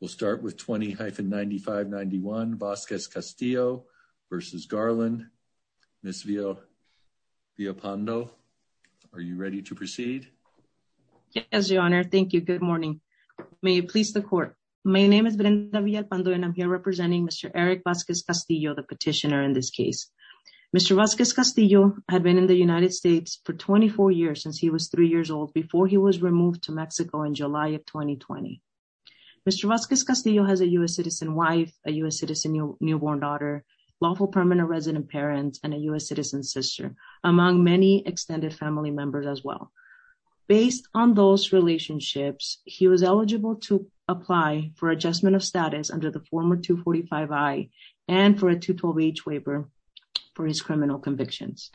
We'll start with 20-9591 Vasquez-Castillo v. Garland. Ms. Villalpando, are you ready to proceed? Yes, your honor. Thank you. Good morning. May it please the court. My name is Brenda Villalpando and I'm here representing Mr. Eric Vasquez-Castillo, the petitioner in this case. Mr. Vasquez-Castillo had been in the United States for 24 years, since he was three years old, before he was removed to Mexico in July of 2020. Mr. Vasquez-Castillo has a U.S. citizen wife, a U.S. citizen newborn daughter, lawful permanent resident parents, and a U.S. citizen sister, among many extended family members as well. Based on those relationships, he was eligible to apply for adjustment of status under the former 245-I and for a 212-H waiver for his criminal convictions.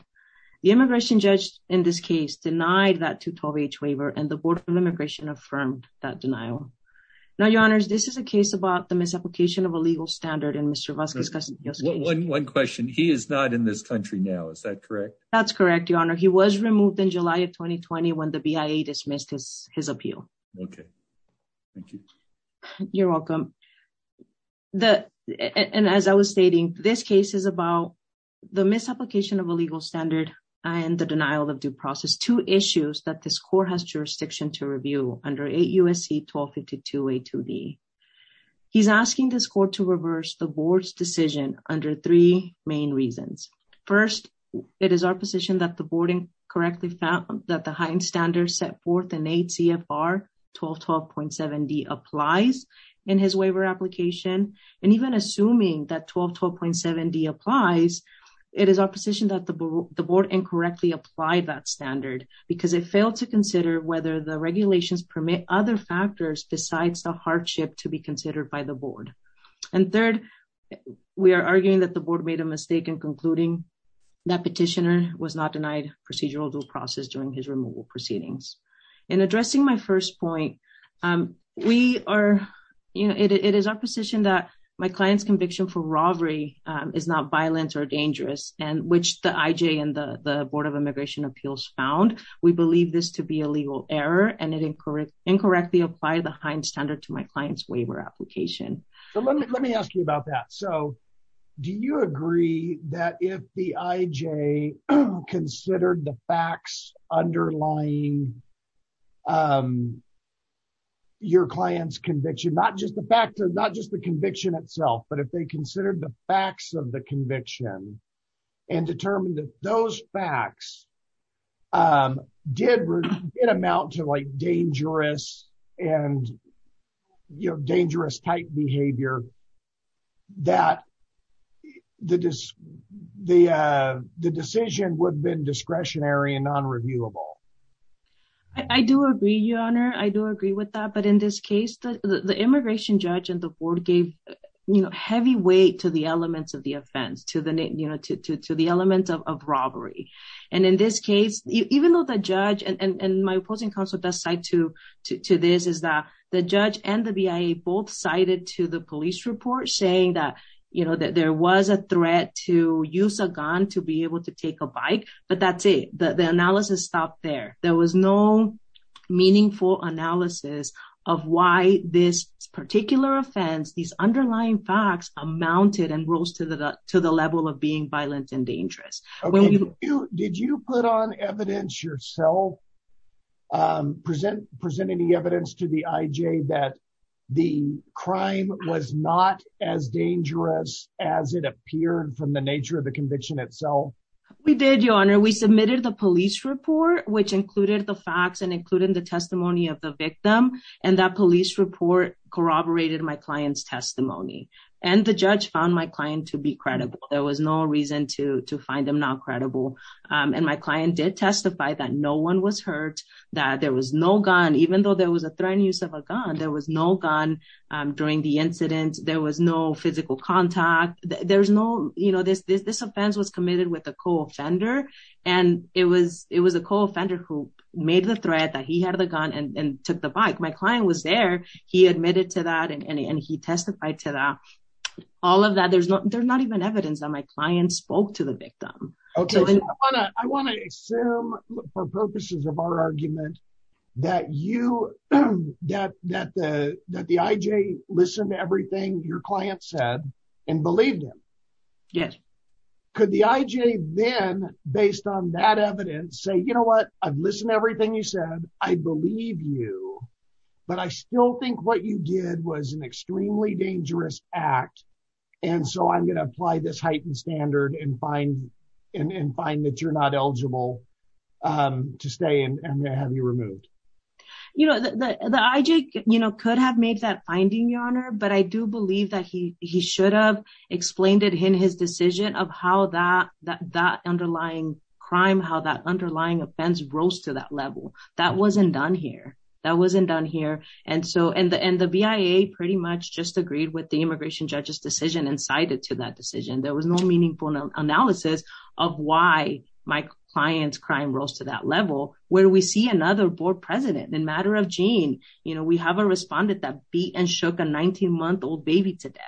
The immigration judge in this case denied that 212-H waiver and the Board of Immigration affirmed that denial. Now, your honors, this is a case about the misapplication of a legal standard in Mr. Vasquez-Castillo's case. One question, he is not in this country now, is that correct? That's correct, your honor. He was removed in July of 2020 when the BIA dismissed his appeal. Okay, thank you. You're welcome. And as I was stating, this case is about the misapplication of a legal standard and the denial of due process, two issues that this court has jurisdiction to review under 8 U.S.C. 1252-A2D. He's asking this court to reverse the Board's decision under three main reasons. First, it is our position that the Board incorrectly found that the heightened standards set forth in 8 CFR 1212.7D applies in his waiver application. And even assuming that the Board incorrectly applied that standard because it failed to consider whether the regulations permit other factors besides the hardship to be considered by the Board. And third, we are arguing that the Board made a mistake in concluding that petitioner was not denied procedural due process during his removal proceedings. In addressing my first point, we are, you know, it is our position that my client's conviction for robbery is not violent or dangerous and which the IJ and the Board of Immigration Appeals found. We believe this to be a legal error and it incorrectly apply the high standard to my client's waiver application. So let me ask you about that. So do you agree that if the IJ considered the facts underlying your client's conviction, not just the fact or not just the conviction itself, but if they the facts of the conviction and determined that those facts did amount to like dangerous and, you know, dangerous type behavior, that the decision would have been discretionary and non-reviewable? I do agree, Your Honor. I do agree with that. But in this case, the immigration judge and the Board gave, you know, heavy weight to the elements of the offense, to the, you know, to the elements of robbery. And in this case, even though the judge and my opposing counsel does cite to this is that the judge and the BIA both cited to the police report saying that, you know, that there was a threat to use a gun to be able to take a bike, but that's the analysis stopped there. There was no meaningful analysis of why this particular offense, these underlying facts amounted and rose to the level of being violent and dangerous. Did you put on evidence yourself, presenting evidence to the IJ that the crime was not as dangerous as it appeared from the nature of the conviction itself? We did, Your Honor. We submitted the police report, which included the facts and included the testimony of the victim. And that police report corroborated my client's testimony. And the judge found my client to be credible. There was no reason to find them not credible. And my client did testify that no one was hurt, that there was no gun, even though there was a threat and use of a gun, there was no gun during the incident. There was no physical contact. There's no, you know, this offense was committed with a co-offender. And it was a co-offender who made the threat that he had a gun and took the bike. My client was there. He admitted to that and he testified to that. All of that, there's not even evidence that my client spoke to the victim. I want to assume for purposes of our argument that you, that the IJ listened to everything your client said and believed him. Yes. Could the IJ then, based on that evidence, say, you know what, I've listened to everything you said, I believe you, but I still think what you did was an extremely dangerous act. And so I'm going to apply this heightened standard and find that you're not eligible to stay and have you removed. You know, the IJ, you know, could have made that finding, your honor, but I do believe that he should have explained it in his decision of how that underlying crime, how that underlying offense rose to that level. That wasn't done here. That wasn't done here. And so, and the BIA pretty much just agreed with the immigration judge's decision and cited to that decision. There was no meaningful analysis of why my client's crime rose to that level. Where we see another board president in matter of Jean, you know, we haven't a respondent that beat and shook a 19 month old baby to death.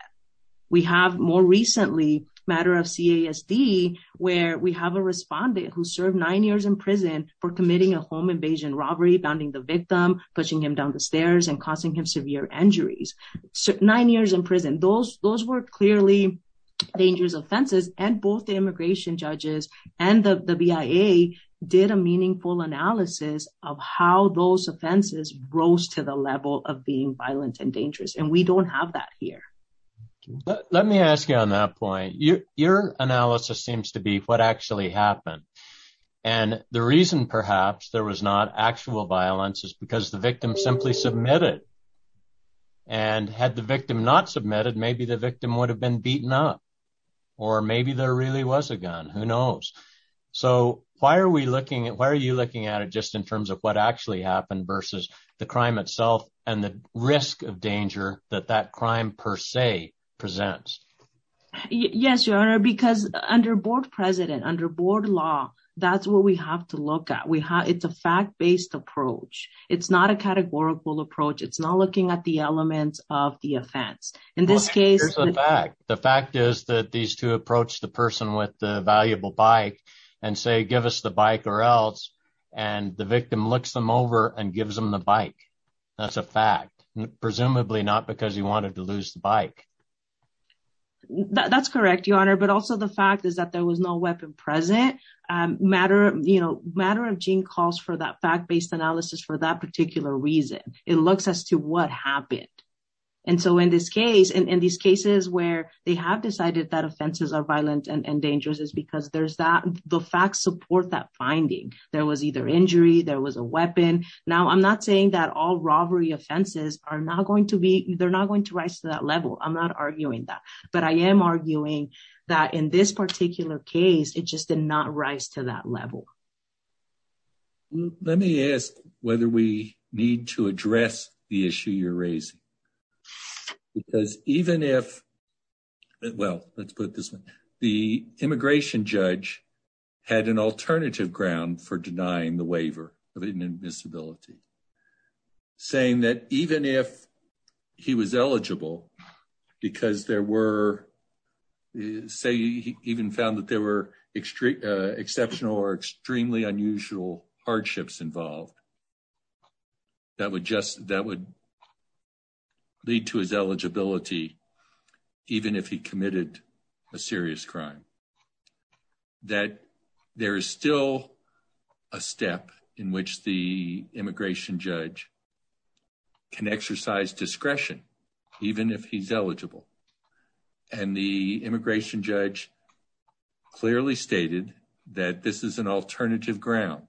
We have more recently matter of CASD, where we have a respondent who served nine years in prison for committing a home invasion robbery, bounding the victim, pushing him down the stairs and causing him severe injuries. Nine years in prison. Those were clearly dangerous offenses and both the immigration judges and the BIA did a meaningful analysis of how those offenses rose to the level of being violent and dangerous. And we don't have that here. Let me ask you on that point. Your analysis seems to be what actually happened. And the reason perhaps there was not actual violence is because the victim simply submitted and had the victim not submitted, maybe the victim would have been beaten up or maybe there really was a gun, who knows. So why are we looking at, why are you looking at it just in terms of what actually happened versus the crime itself and the risk of danger that that crime per se presents? Yes, your honor, because under board president, under board law, that's what we have to look at. It's a fact-based approach. It's not a categorical approach. It's not looking at the elements of the offense. In this case, the fact is that these two approach the person with the valuable bike and say, give us the bike or else, and the victim looks them over and gives them the bike. That's a fact. Presumably not because he wanted to lose the bike. That's correct, your honor. But also the fact is that there was no weapon present. Matter of, you know, matter of gene calls for that fact-based analysis for that particular reason. It looks as to what happened. And so in this case, in these cases where they have decided that offenses are violent and dangerous is because there's that, the facts support that finding. There was either injury, there was a weapon. Now, I'm not saying that all robbery offenses are not going to be, they're not going to rise to that level. I'm not arguing that. But I am arguing that in this particular case, it just did not rise to that level. Well, let me ask whether we need to address the issue you're raising. Because even if, well, let's put this one, the immigration judge had an alternative ground for denying the waiver of inadmissibility, saying that even if he was eligible because there were, say, he even found there were exceptional or extremely unusual hardships involved, that would lead to his eligibility even if he committed a serious crime. That there is still a step in which the immigration judge clearly stated that this is an alternative ground,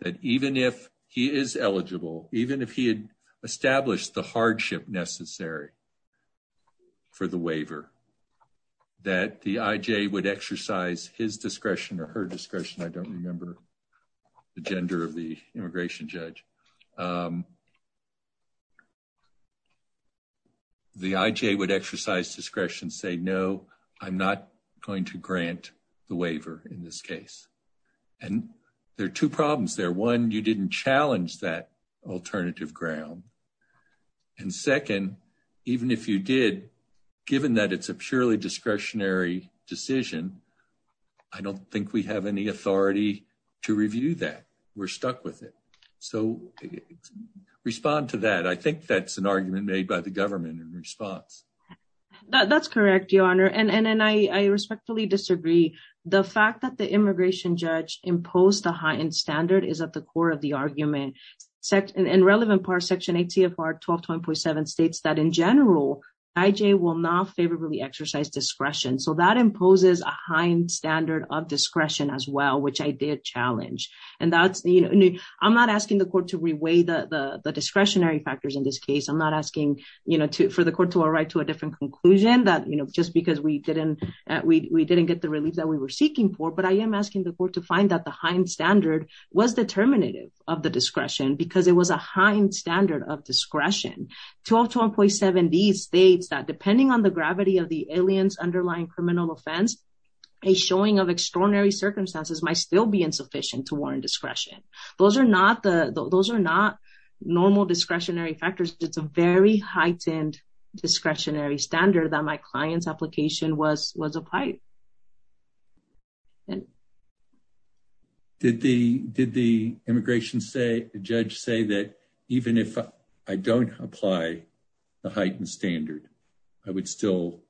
that even if he is eligible, even if he had established the hardship necessary for the waiver, that the IJ would exercise his discretion or her discretion, I don't remember the gender of the immigration judge. The IJ would exercise discretion, say, no, I'm not going to grant the waiver in this case. And there are two problems there. One, you didn't challenge that alternative ground. And second, even if you did, given that it's a purely discretionary decision, I don't think we have any authority to review that. We're stuck with it. So respond to that. I think that's an argument made by the government in That's correct, Your Honor. And I respectfully disagree. The fact that the immigration judge imposed a heightened standard is at the core of the argument. In relevant parts, Section ATFR 1220.7 states that in general, IJ will not favorably exercise discretion. So that imposes a high standard of discretion as well, which I did challenge. And that's, you know, I'm not asking the court to reweigh the discretionary factors in this case. I'm not asking, you know, for the right to a different conclusion that, you know, just because we didn't, we didn't get the relief that we were seeking for. But I am asking the court to find that the high standard was determinative of the discretion because it was a high standard of discretion. 1220.7 states that depending on the gravity of the alien's underlying criminal offense, a showing of extraordinary circumstances might still be insufficient to warrant discretion. Those are not normal discretionary factors. It's very heightened discretionary standard that my client's application was applied. Did the immigration judge say that even if I don't apply the heightened standard, I would still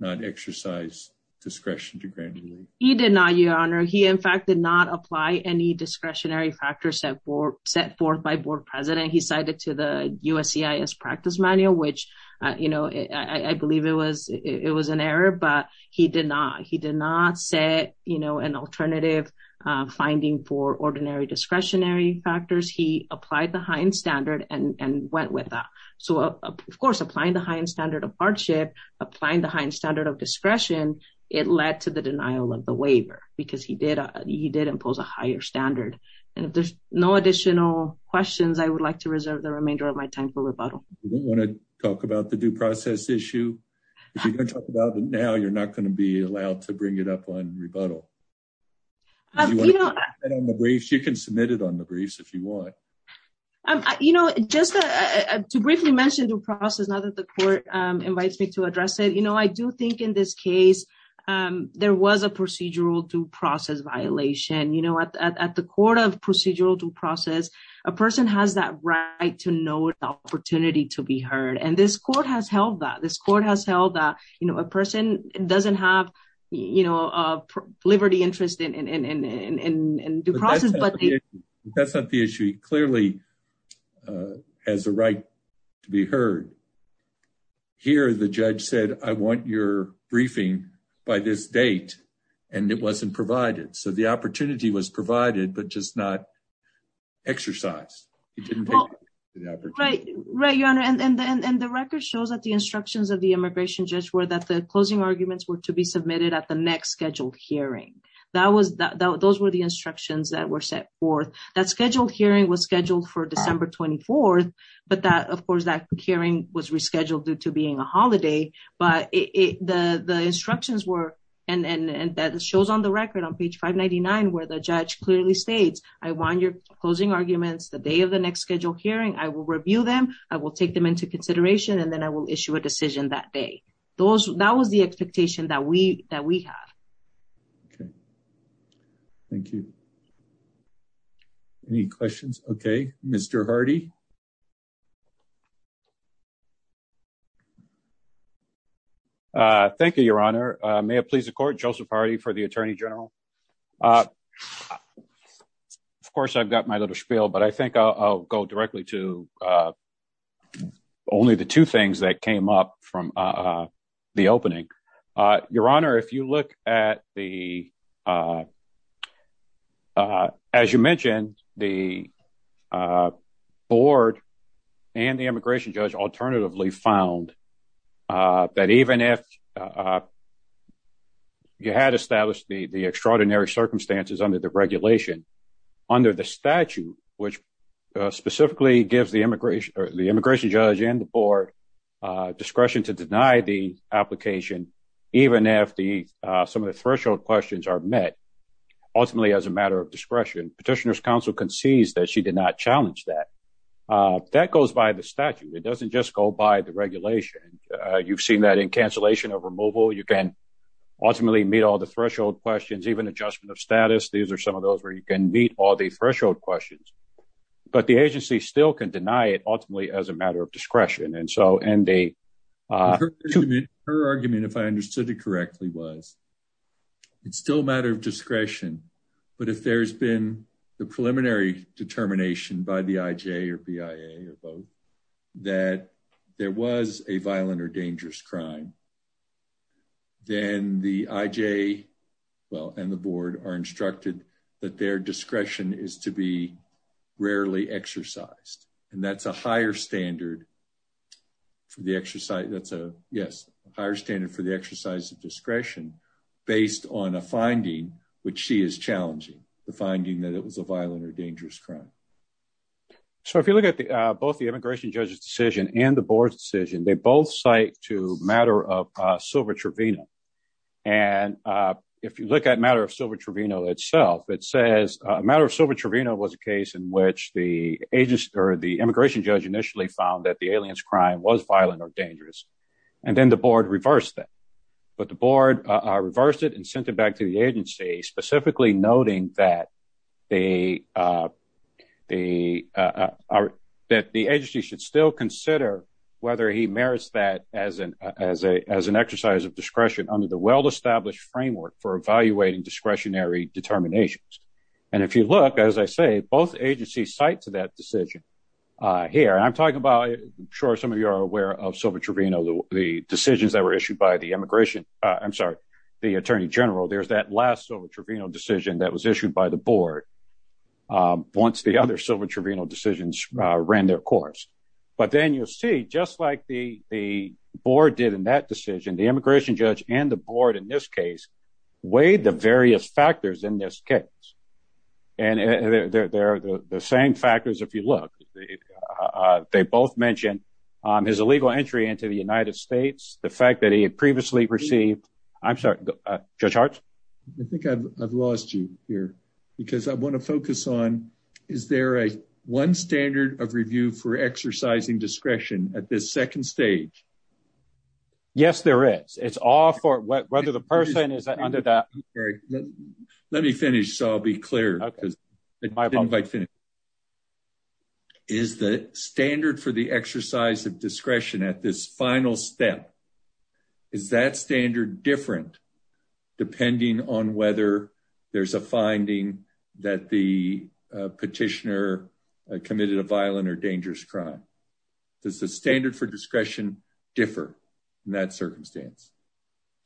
not exercise discretion to grant relief? He did not, Your Honor. He in fact did not apply any discretionary factors set forth by board president. He cited to the USCIS practice manual, which, you know, I believe it was, it was an error, but he did not. He did not set, you know, an alternative finding for ordinary discretionary factors. He applied the heightened standard and went with that. So of course, applying the heightened standard of hardship, applying the heightened standard of discretion, it led to the denial of the waiver because he did, he did impose a higher standard. And if there's no additional questions, I would like to reserve the remainder of my time for rebuttal. You don't want to talk about the due process issue. If you're going to talk about it now, you're not going to be allowed to bring it up on rebuttal. You can submit it on the briefs if you want. You know, just to briefly mention due process, now that the court invites me to address it, you know, I do think in this case, there was a procedural due process violation. You know, at the court of procedural due process, a person has that right to know the opportunity to be heard. And this court has held that. This court has held that, you know, a person doesn't have, you know, a liberty interest in due process. But that's not the issue. Clearly has the right to be heard. Here, the judge said, I want your briefing by this date. And it wasn't provided. So the opportunity was provided, but just not exercised. He didn't take the opportunity. Right, your honor. And then the record shows that the instructions of the immigration judge were that the closing arguments were to be submitted at the next scheduled hearing. That was that those were the instructions that were set forth. That scheduled hearing was scheduled for December 24. But that, of course, that hearing was rescheduled due to being a holiday. But the instructions were, and that shows on the record on page 599, where the judge clearly states, I want your closing arguments the day of the next scheduled hearing, I will review them, I will take them into consideration. And then I will issue a decision that day. Those that was the expectation that we have. Okay. Thank you. Any questions? Okay. Mr Hardy. Uh, thank you, your honor. May it please the court. Joseph Hardy for the attorney general. Uh, of course, I've got my little spiel, but I think I'll go directly to, uh, only the two things that came up from, uh, the opening. Uh, your honor, if you look at the, uh, uh, as you mentioned, the, uh, board and the immigration judge alternatively found, uh, that even if, uh, you had established the extraordinary circumstances under the regulation under the statute, which, uh, specifically gives the immigration or the immigration judge and the board, uh, discretion to deny the application, even if the, uh, some of the threshold questions are met ultimately as a matter of discretion, petitioner's counsel concedes that she did not challenge that, uh, that goes by the statute. It doesn't just go by the regulation. Uh, you've seen that in cancellation of removal, you can ultimately meet all the threshold questions, even adjustment of status. These are some of those where you can meet all the threshold questions, but the agency still can deny it ultimately as a matter of discretion. And so, and they, uh, her argument, if I understood it correctly was it's still a matter of discretion, but if there's been the preliminary determination by the IJ or BIA or both that there was a violent or dangerous crime, then the IJ well, and the board are instructed that their discretion is to be rarely exercised. And that's a higher standard for the exercise. That's a yes, higher standard for the exercise of discretion based on a finding, which she is challenging the finding that it was a violent or dangerous crime. So if you look at the, uh, both the immigration judge's decision and the board's decision, they both cite to matter of, uh, silver Trevino. And, uh, if you look at matter of silver Trevino itself, it says a matter of silver Trevino was a case in which the agency or the immigration judge initially found that the alien's crime was violent or dangerous. And then the board reversed that, but the board reversed it and sent it back to the agency, specifically noting that the, uh, the, uh, our, that the agency should still consider whether he merits that as an, as a, as an exercise of discretion under the well-established framework for evaluating discretionary determinations. And if you look, as I say, both agencies cite to that decision, uh, here, and I'm talking about sure. Some of you are aware of silver Trevino, the decisions that were issued by the immigration, uh, I'm sorry, the attorney general, there's that last silver Trevino decision that was issued by the board. Um, once the other silver Trevino decisions, uh, ran their course, but then you'll see just like the, the board did in that decision, the immigration judge and the board in this case weighed the various factors in this case. And they're, they're, they're the same factors. If you look, uh, they both mentioned, um, his illegal entry into the United States, the fact that he had previously received, I'm sorry, uh, I think I've, I've lost you here because I want to focus on, is there a one standard of review for exercising discretion at this second stage? Yes, there is. It's all for whether the person is under that. Let me finish. So I'll be clear. Is the standard for the exercise of discretion at this final step, is that standard different depending on whether there's a finding that the petitioner committed a violent or dangerous crime? Does the standard for discretion differ in that circumstance?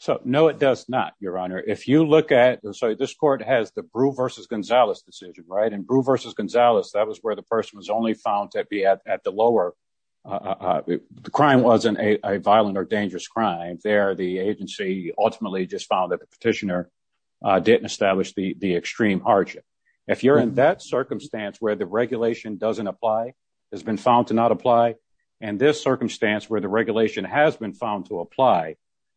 So, no, it does not. Your honor. If you look at, I'm sorry, this court has the brew versus Gonzalez decision, right? And brew versus Gonzalez. That was where the person was only found at the lower, uh, uh, the crime wasn't a violent or dangerous crime there. The agency ultimately just found that the petitioner, uh, didn't establish the, the extreme hardship. If you're in that circumstance where the regulation doesn't apply, has been found to not apply. And this circumstance where the regulation has been found to apply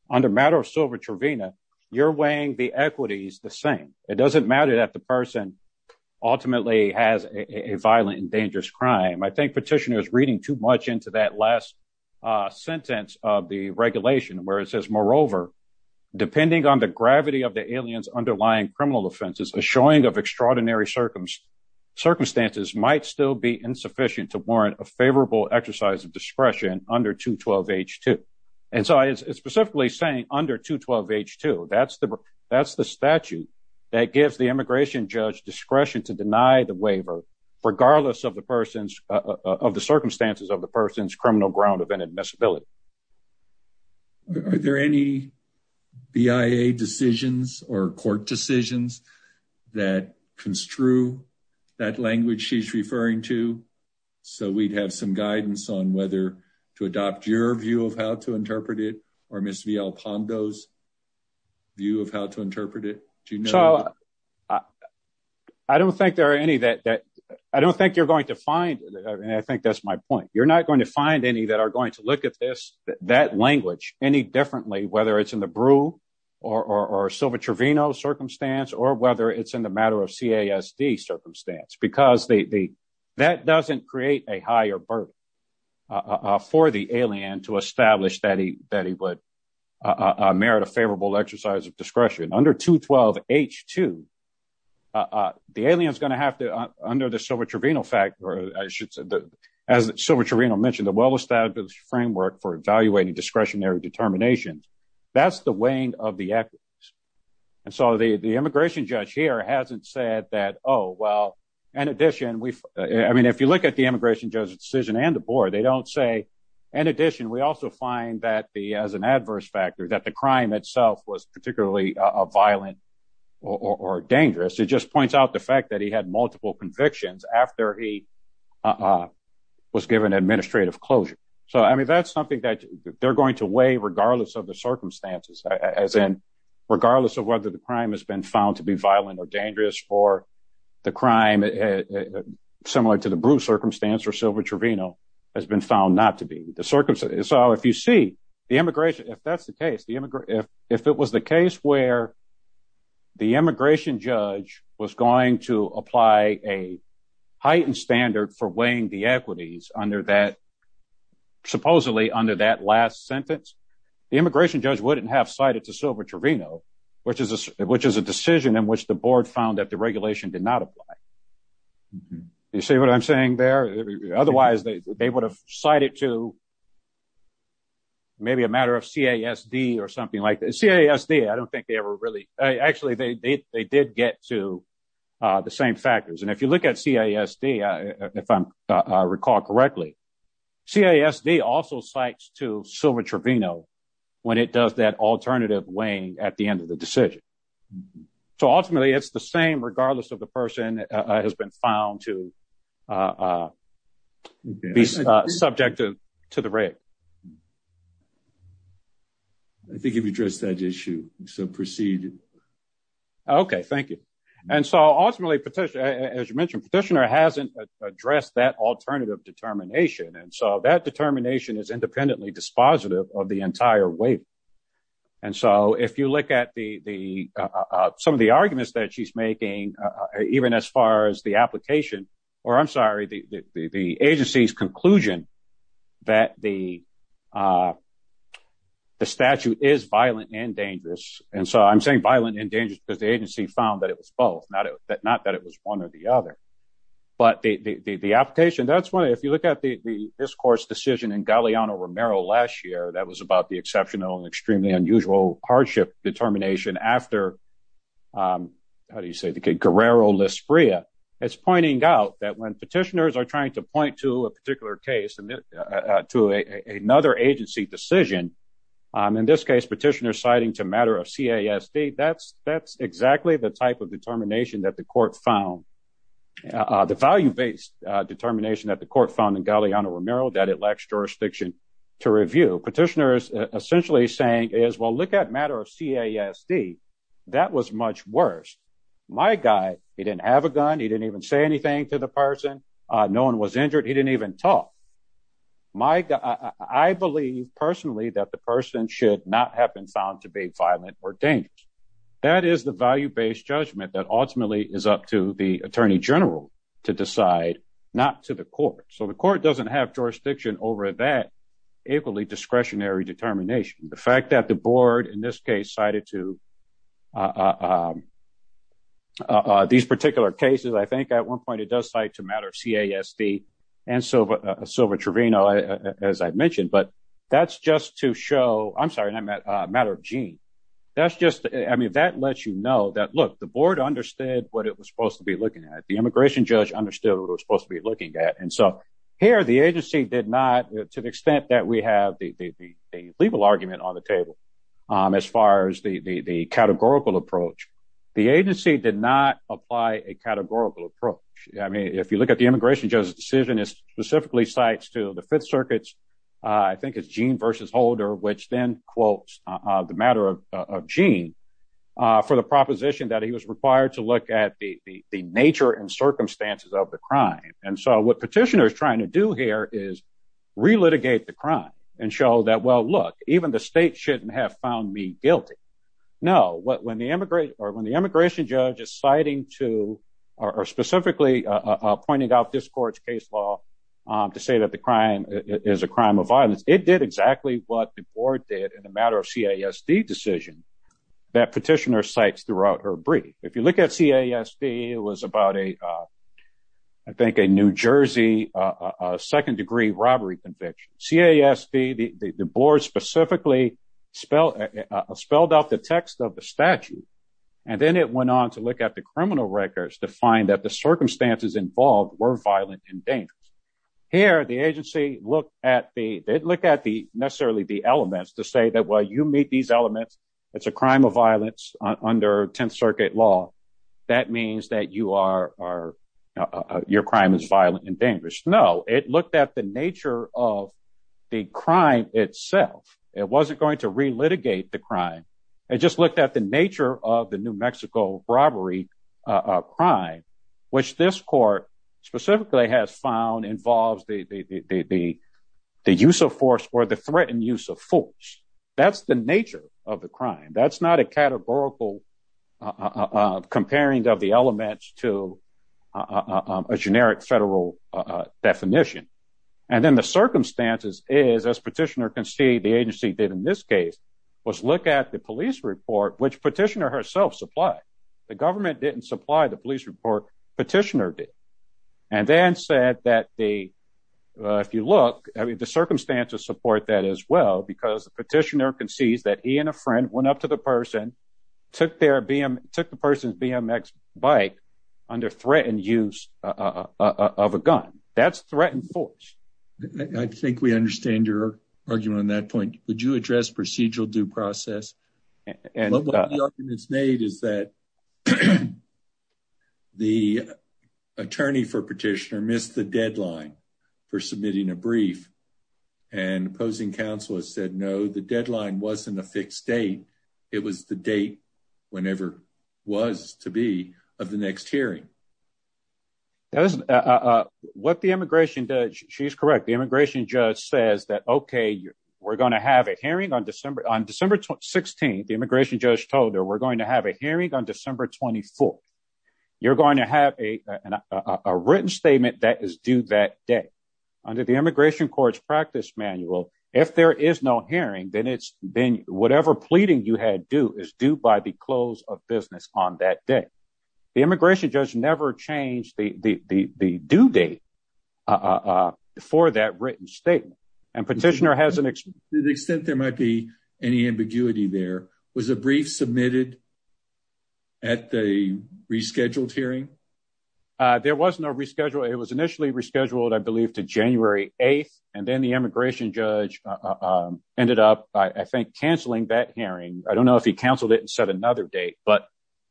under matter of silver Trevena, you're weighing the equities the same. It doesn't matter that the person ultimately has a violent and dangerous crime. I think petitioner is reading too much into that last sentence of the regulation where it says, moreover, depending on the gravity of the aliens, underlying criminal offenses, a showing of extraordinary circumstance circumstances might still be insufficient to warrant a favorable exercise of discretion under two 12 H two. And so I specifically saying under two 12 H two, that's the, that's the statute that gives the to deny the waiver regardless of the person's, uh, of the circumstances of the person's criminal ground of inadmissibility. Are there any BIA decisions or court decisions that construe that language she's referring to? So we'd have some guidance on whether to adopt your view of how to interpret it or miss VL Pando's view of how to interpret it. Do you know? I don't think there are any that, that I don't think you're going to find. And I think that's my point. You're not going to find any that are going to look at this, that language any differently, whether it's in the brew or, or, or silver Trevena circumstance, or whether it's in the matter of CASD circumstance, because the, the, that doesn't create a higher burden, uh, for the alien to establish that he, that he would, uh, merit a favorable exercise of discretion under two 12 H two, uh, the alien is going to have to, uh, under the silver Trevena fact, or I should say that as silver Trevena mentioned the well-established framework for evaluating discretionary determinations, that's the weighing of the equity. And so the, the immigration judge here hasn't said that, Oh, well, in addition, we've, I mean, if you look at the immigration decision and the board, they don't say, and addition, we also find that the, as an adverse factor that the crime itself was particularly a violent or dangerous. It just points out the fact that he had multiple convictions after he, uh, was given administrative closure. So, I mean, that's something that they're going to weigh regardless of the circumstances, as in regardless of whether the crime has been found to be violent or dangerous for the crime, similar to the brew circumstance or silver Trevena has been found not to be the circumstance. So if you see the immigration, if that's the case, the immigrant, if, if it was the case where the immigration judge was going to apply a heightened standard for weighing the equities under that supposedly under that last sentence, the immigration judge wouldn't have cited to silver Trevena, which is a, which is a decision in which the board found that the regulation did not apply. Mm-hmm. You see what I'm saying there? Otherwise they would have cited to maybe a matter of CASD or something like that. CASD, I don't think they ever really, uh, actually they, they, they did get to, uh, the same factors. And if you look at CASD, uh, if I'm, uh, recall correctly, CASD also sites to silver Trevena when it does that alternative weighing at the end of the decision. So ultimately it's the same, regardless of the person has been found to, uh, uh, be subject to the rate. I think you've addressed that issue. So proceed. Okay. Thank you. And so ultimately petition, as you mentioned, petitioner hasn't addressed that alternative determination. And so that determination is independently dispositive of the entire weight. And so if you look at the, the, uh, uh, some of the arguments that she's making, uh, even as far as the application or I'm sorry, the, the, the agency's conclusion that the, uh, the statute is violent and dangerous. And so I'm saying violent and dangerous because the agency found that it was both not that, not that it was one or the other, but the, the, the, the application, that's why, if you look at the discourse decision in Galeano Romero last year, that was about the exceptional and extremely unusual hardship determination after, um, how do you say the kid Guerrero Lispria it's pointing out that when petitioners are trying to point to a particular case and to another agency decision, um, in this case, petitioner citing to matter of CASD, that's, that's exactly the type of the value-based, uh, determination that the court found in Galeano Romero, that it lacks jurisdiction to review petitioners essentially saying is, well, look at matter of CASD. That was much worse. My guy, he didn't have a gun. He didn't even say anything to the person. Uh, no one was injured. He didn't even talk. My guy, I believe personally that the person should not have been found to be violent or dangerous. That is the value-based judgment that ultimately is up to the attorney general to decide not to the court. So the court doesn't have jurisdiction over that equally discretionary determination. The fact that the board in this case cited to, uh, uh, uh, uh, these particular cases, I think at one point it does cite to matter of CASD and Silva, uh, Silva Trevino, uh, as I mentioned, but that's just to show, I'm sorry, matter of gene. That's just, I mean, that lets you know that, look, the board understood what it was supposed to be looking at. The immigration judge understood what it was supposed to be looking at. And so here the agency did not, to the extent that we have the, the, the legal argument on the table, um, as far as the, the, the categorical approach, the agency did not apply a categorical approach. I mean, if you look at the immigration judge's decision is specifically sites to the fifth circuits, uh, I think it's gene versus holder, which then quotes, uh, the matter of, uh, of gene, uh, for the proposition that he was required to look at the, the, the nature and circumstances of the crime. And so what petitioner is trying to do here is relitigate the crime and show that, well, look, even the state shouldn't have found me guilty. No, what, when the immigrant or when the immigration judge is citing to, or specifically pointing out this court's case law, um, to say that the crime is a crime of violence. It did exactly what the board did in the matter of CISD decision that petitioner sites throughout her brief. If you look at CISD, it was about a, uh, I think a New Jersey, uh, a second degree robbery conviction, CISD, the, the, the board specifically spell, uh, spelled out the text of the statute. And then it went on to look at the criminal records to find that the circumstances involved were violent and dangerous. Here, the agency looked at the, they'd look at the necessarily the elements to say that, well, you meet these elements. It's a crime of violence under 10th circuit law. That means that you are, are, uh, your crime is violent and dangerous. No, it looked at the nature of the crime itself. It wasn't going to relitigate the crime. It just looked at the nature of the New Mexico robbery, uh, uh, crime, which this court specifically has found involves the, the, the, the, the, the use of force or the threatened use of force. That's the nature of the crime. That's not a categorical, uh, uh, uh, comparing of the elements to, uh, um, a generic federal, uh, uh, definition. And then the circumstances is as petitioner can see the agency did in this case was look at the police report, which petitioner herself supply. The government didn't supply the police report petitioner did, and then said that the, uh, if you look, I mean, the circumstances support that as well, because the petitioner can seize that he and a friend went up to the person, took their BM, took the person's BMX bike under threat and use, uh, uh, uh, of a gun that's threatened force. I think we understand your argument on that point. Would you address procedural due process? And it's made is that the attorney for petitioner missed the deadline for submitting a brief and opposing council has said, no, the deadline wasn't a fixed date. It was the date whenever was to be of the next hearing. That was, uh, uh, what the immigration does. She's correct. The immigration judge says that, okay, we're going to have a hearing on December, on December 16th, the immigration judge told her, we're going to have a hearing on December 24th. You're going to have a, uh, a written statement that is due that day under the immigration courts practice manual. If there is no hearing, then it's been whatever pleading you had do is due by the close of business on that day. The immigration judge never changed the, the, the, the due date, uh, for that written statement. And petitioner has an extent. There might be any ambiguity there was a brief submitted at the rescheduled hearing. Uh, there was no reschedule. It was initially rescheduled, I believe to January 8th. And then the immigration judge, um, ended up, I think canceling that hearing. I don't know if he canceled it and set another date, but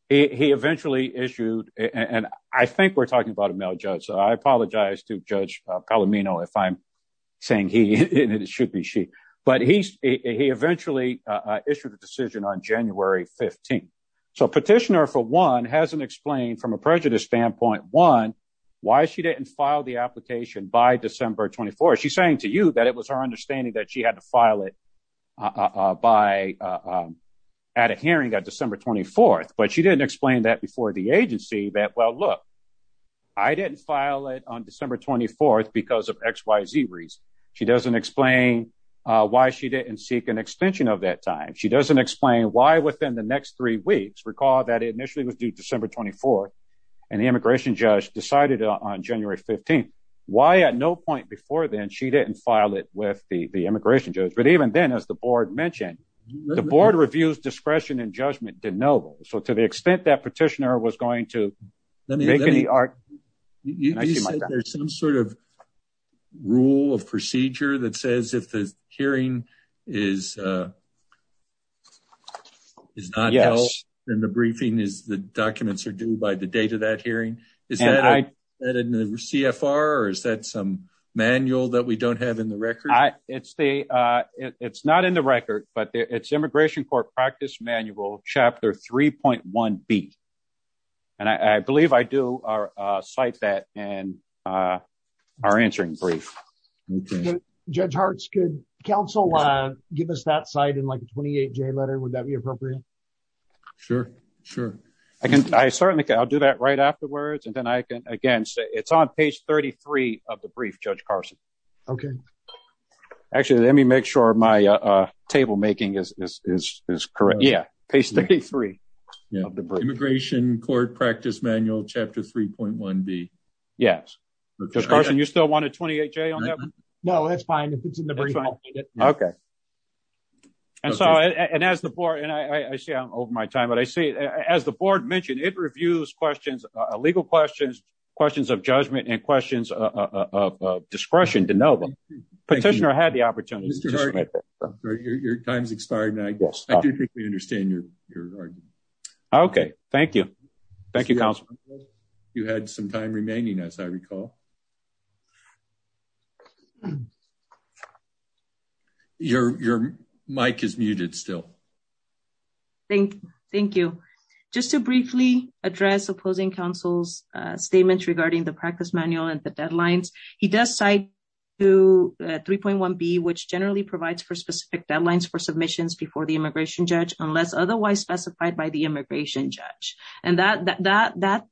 he eventually issued. And I think we're talking about a male judge. So I apologize to judge Palomino. If I'm saying he, it should be she, but he's, he eventually, uh, issued a decision on January 15th. So petitioner for one hasn't explained from a prejudice standpoint, one, why she didn't file the application by December 24th. She's saying to you that it was our by, uh, um, at a hearing at December 24th, but she didn't explain that before the agency that, well, look, I didn't file it on December 24th because of X, Y, Z reason. She doesn't explain, uh, why she didn't seek an extension of that time. She doesn't explain why within the next three weeks recall that it initially was due December 24th and the immigration judge decided on January 15th. Why at no point before then she didn't file it with the immigration judge. But even then, as the board mentioned, the board reviews, discretion and judgment didn't know. So to the extent that petitioner was going to make any art, there's some sort of rule of procedure that says if the hearing is, uh, is not in the briefing is the documents are due by the date of that hearing. Is that in the CFR or is that some manual that we don't have in the record? It's the, uh, it's not in the record, but it's immigration court practice manual chapter 3.1 beat. And I, I believe I do our, uh, site that and, uh, our answering brief judge hearts. Good counsel. Uh, give us that site in like a 28 J letter. Would that be appropriate? Sure. Sure. I can. I certainly can. I'll do that right afterwards. And then I can, again, it's on page 33 of the brief judge Carson. Okay. Actually, let me make sure my, uh, table making is, is, is, is correct. Yeah. Page 33 immigration court practice manual chapter 3.1 B. Yes. Just Carson. You still want a 28 J on that? No, that's fine. Okay. And so, and as the board and I, I, I see I'm over my time, but I see as the board mentioned, it reviews questions, uh, legal questions, questions of judgment and questions, uh, of, of, of discretion to know them petitioner had the opportunity. Your time's expired. And I do think we understand your, your argument. Okay. Thank you. Thank you. You had some time remaining as I recall. Your, your mic is muted still. Thank you. Thank you. Just to briefly address opposing councils, uh, statements regarding the practice manual and the deadlines. He does cite to a 3.1 B, which generally provides for specific deadlines for submissions before the immigration judge, unless otherwise specified by the immigration judge. And that, that, that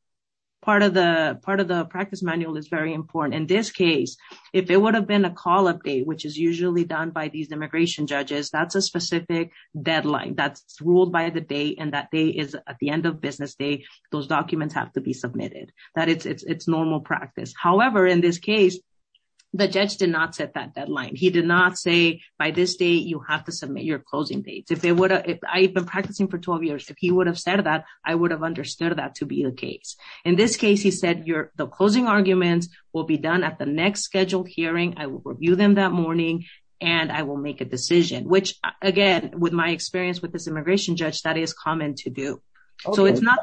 part of the part of the practice manual is very important in this case, if it would have been a call update, which is usually done by these immigration judges, that's a specific deadline that's ruled by the day. And that day is at the end of business day, those documents have to be submitted that it's, it's, it's normal practice. However, in this case, the judge did not set that deadline. He did not say by this day, you have to submit your closing dates. If they would, if I've been practicing for 12 years, if he would have said that I would have understood that to be a case. In this case, he said, you're the closing arguments will be done at the next scheduled hearing. I will review them that morning and I will make a decision, which again, with my experience, with this immigration judge, that is common to do. So it's not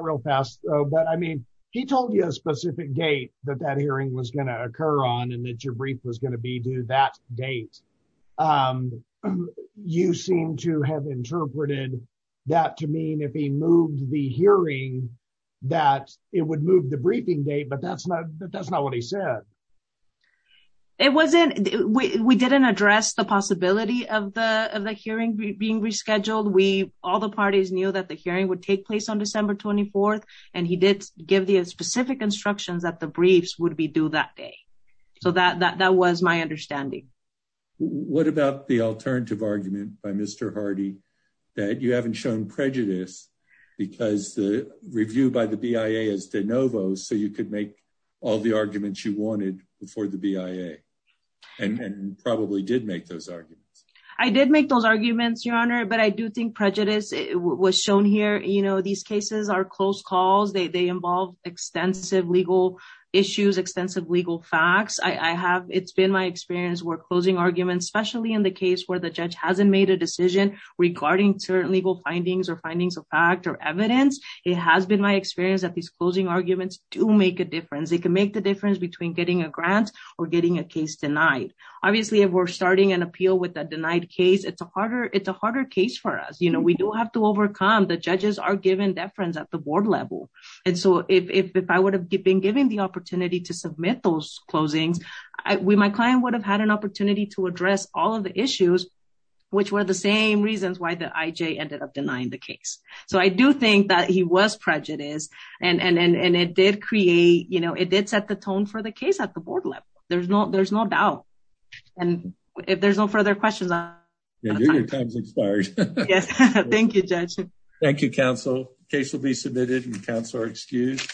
real fast. But I mean, he told you a specific date that that hearing was going to occur on and that your brief was going to be due that date. You seem to have interpreted that to mean if he moved the hearing, that it would move the briefing date, but that's not that that's not what he said. It wasn't, we didn't address the possibility of the, of the hearing being rescheduled. We, all the parties knew that the hearing would take place on December 24th. And he did give the specific instructions that the briefs would be due that day. So that, that, that was my understanding. What about the alternative argument by Mr. Hardy that you haven't shown prejudice because the review by the BIA is de novo. So you could make all the arguments you wanted before the BIA and probably did make those arguments. I did make those arguments, your honor, but I do think prejudice was shown here. You know, these cases are close calls. They involve extensive legal issues, extensive legal facts. I have, it's been my experience where closing arguments, especially in the case where the judge hasn't made a decision regarding certain legal findings or findings of fact or evidence. It has been my experience that these closing arguments do make a difference. It can make the difference between getting a grant or getting a case denied. Obviously, if we're starting an appeal with a denied case, it's a harder, it's a harder case for us. You know, we do have to overcome the judges are given deference at the board level. And so if, if, if I would have been given the opportunity to submit those closings, we, my client would have had an opportunity to address all of the issues, which were the same reasons why the IJ ended up denying the case. So I do think that he was prejudiced and, and, and, and it did create, you know, it did set the tone for the case at the board level. There's no, there's no doubt. And if there's no further questions, your time's expired. Yes. Thank you, judge. Thank you. Counsel case will be submitted.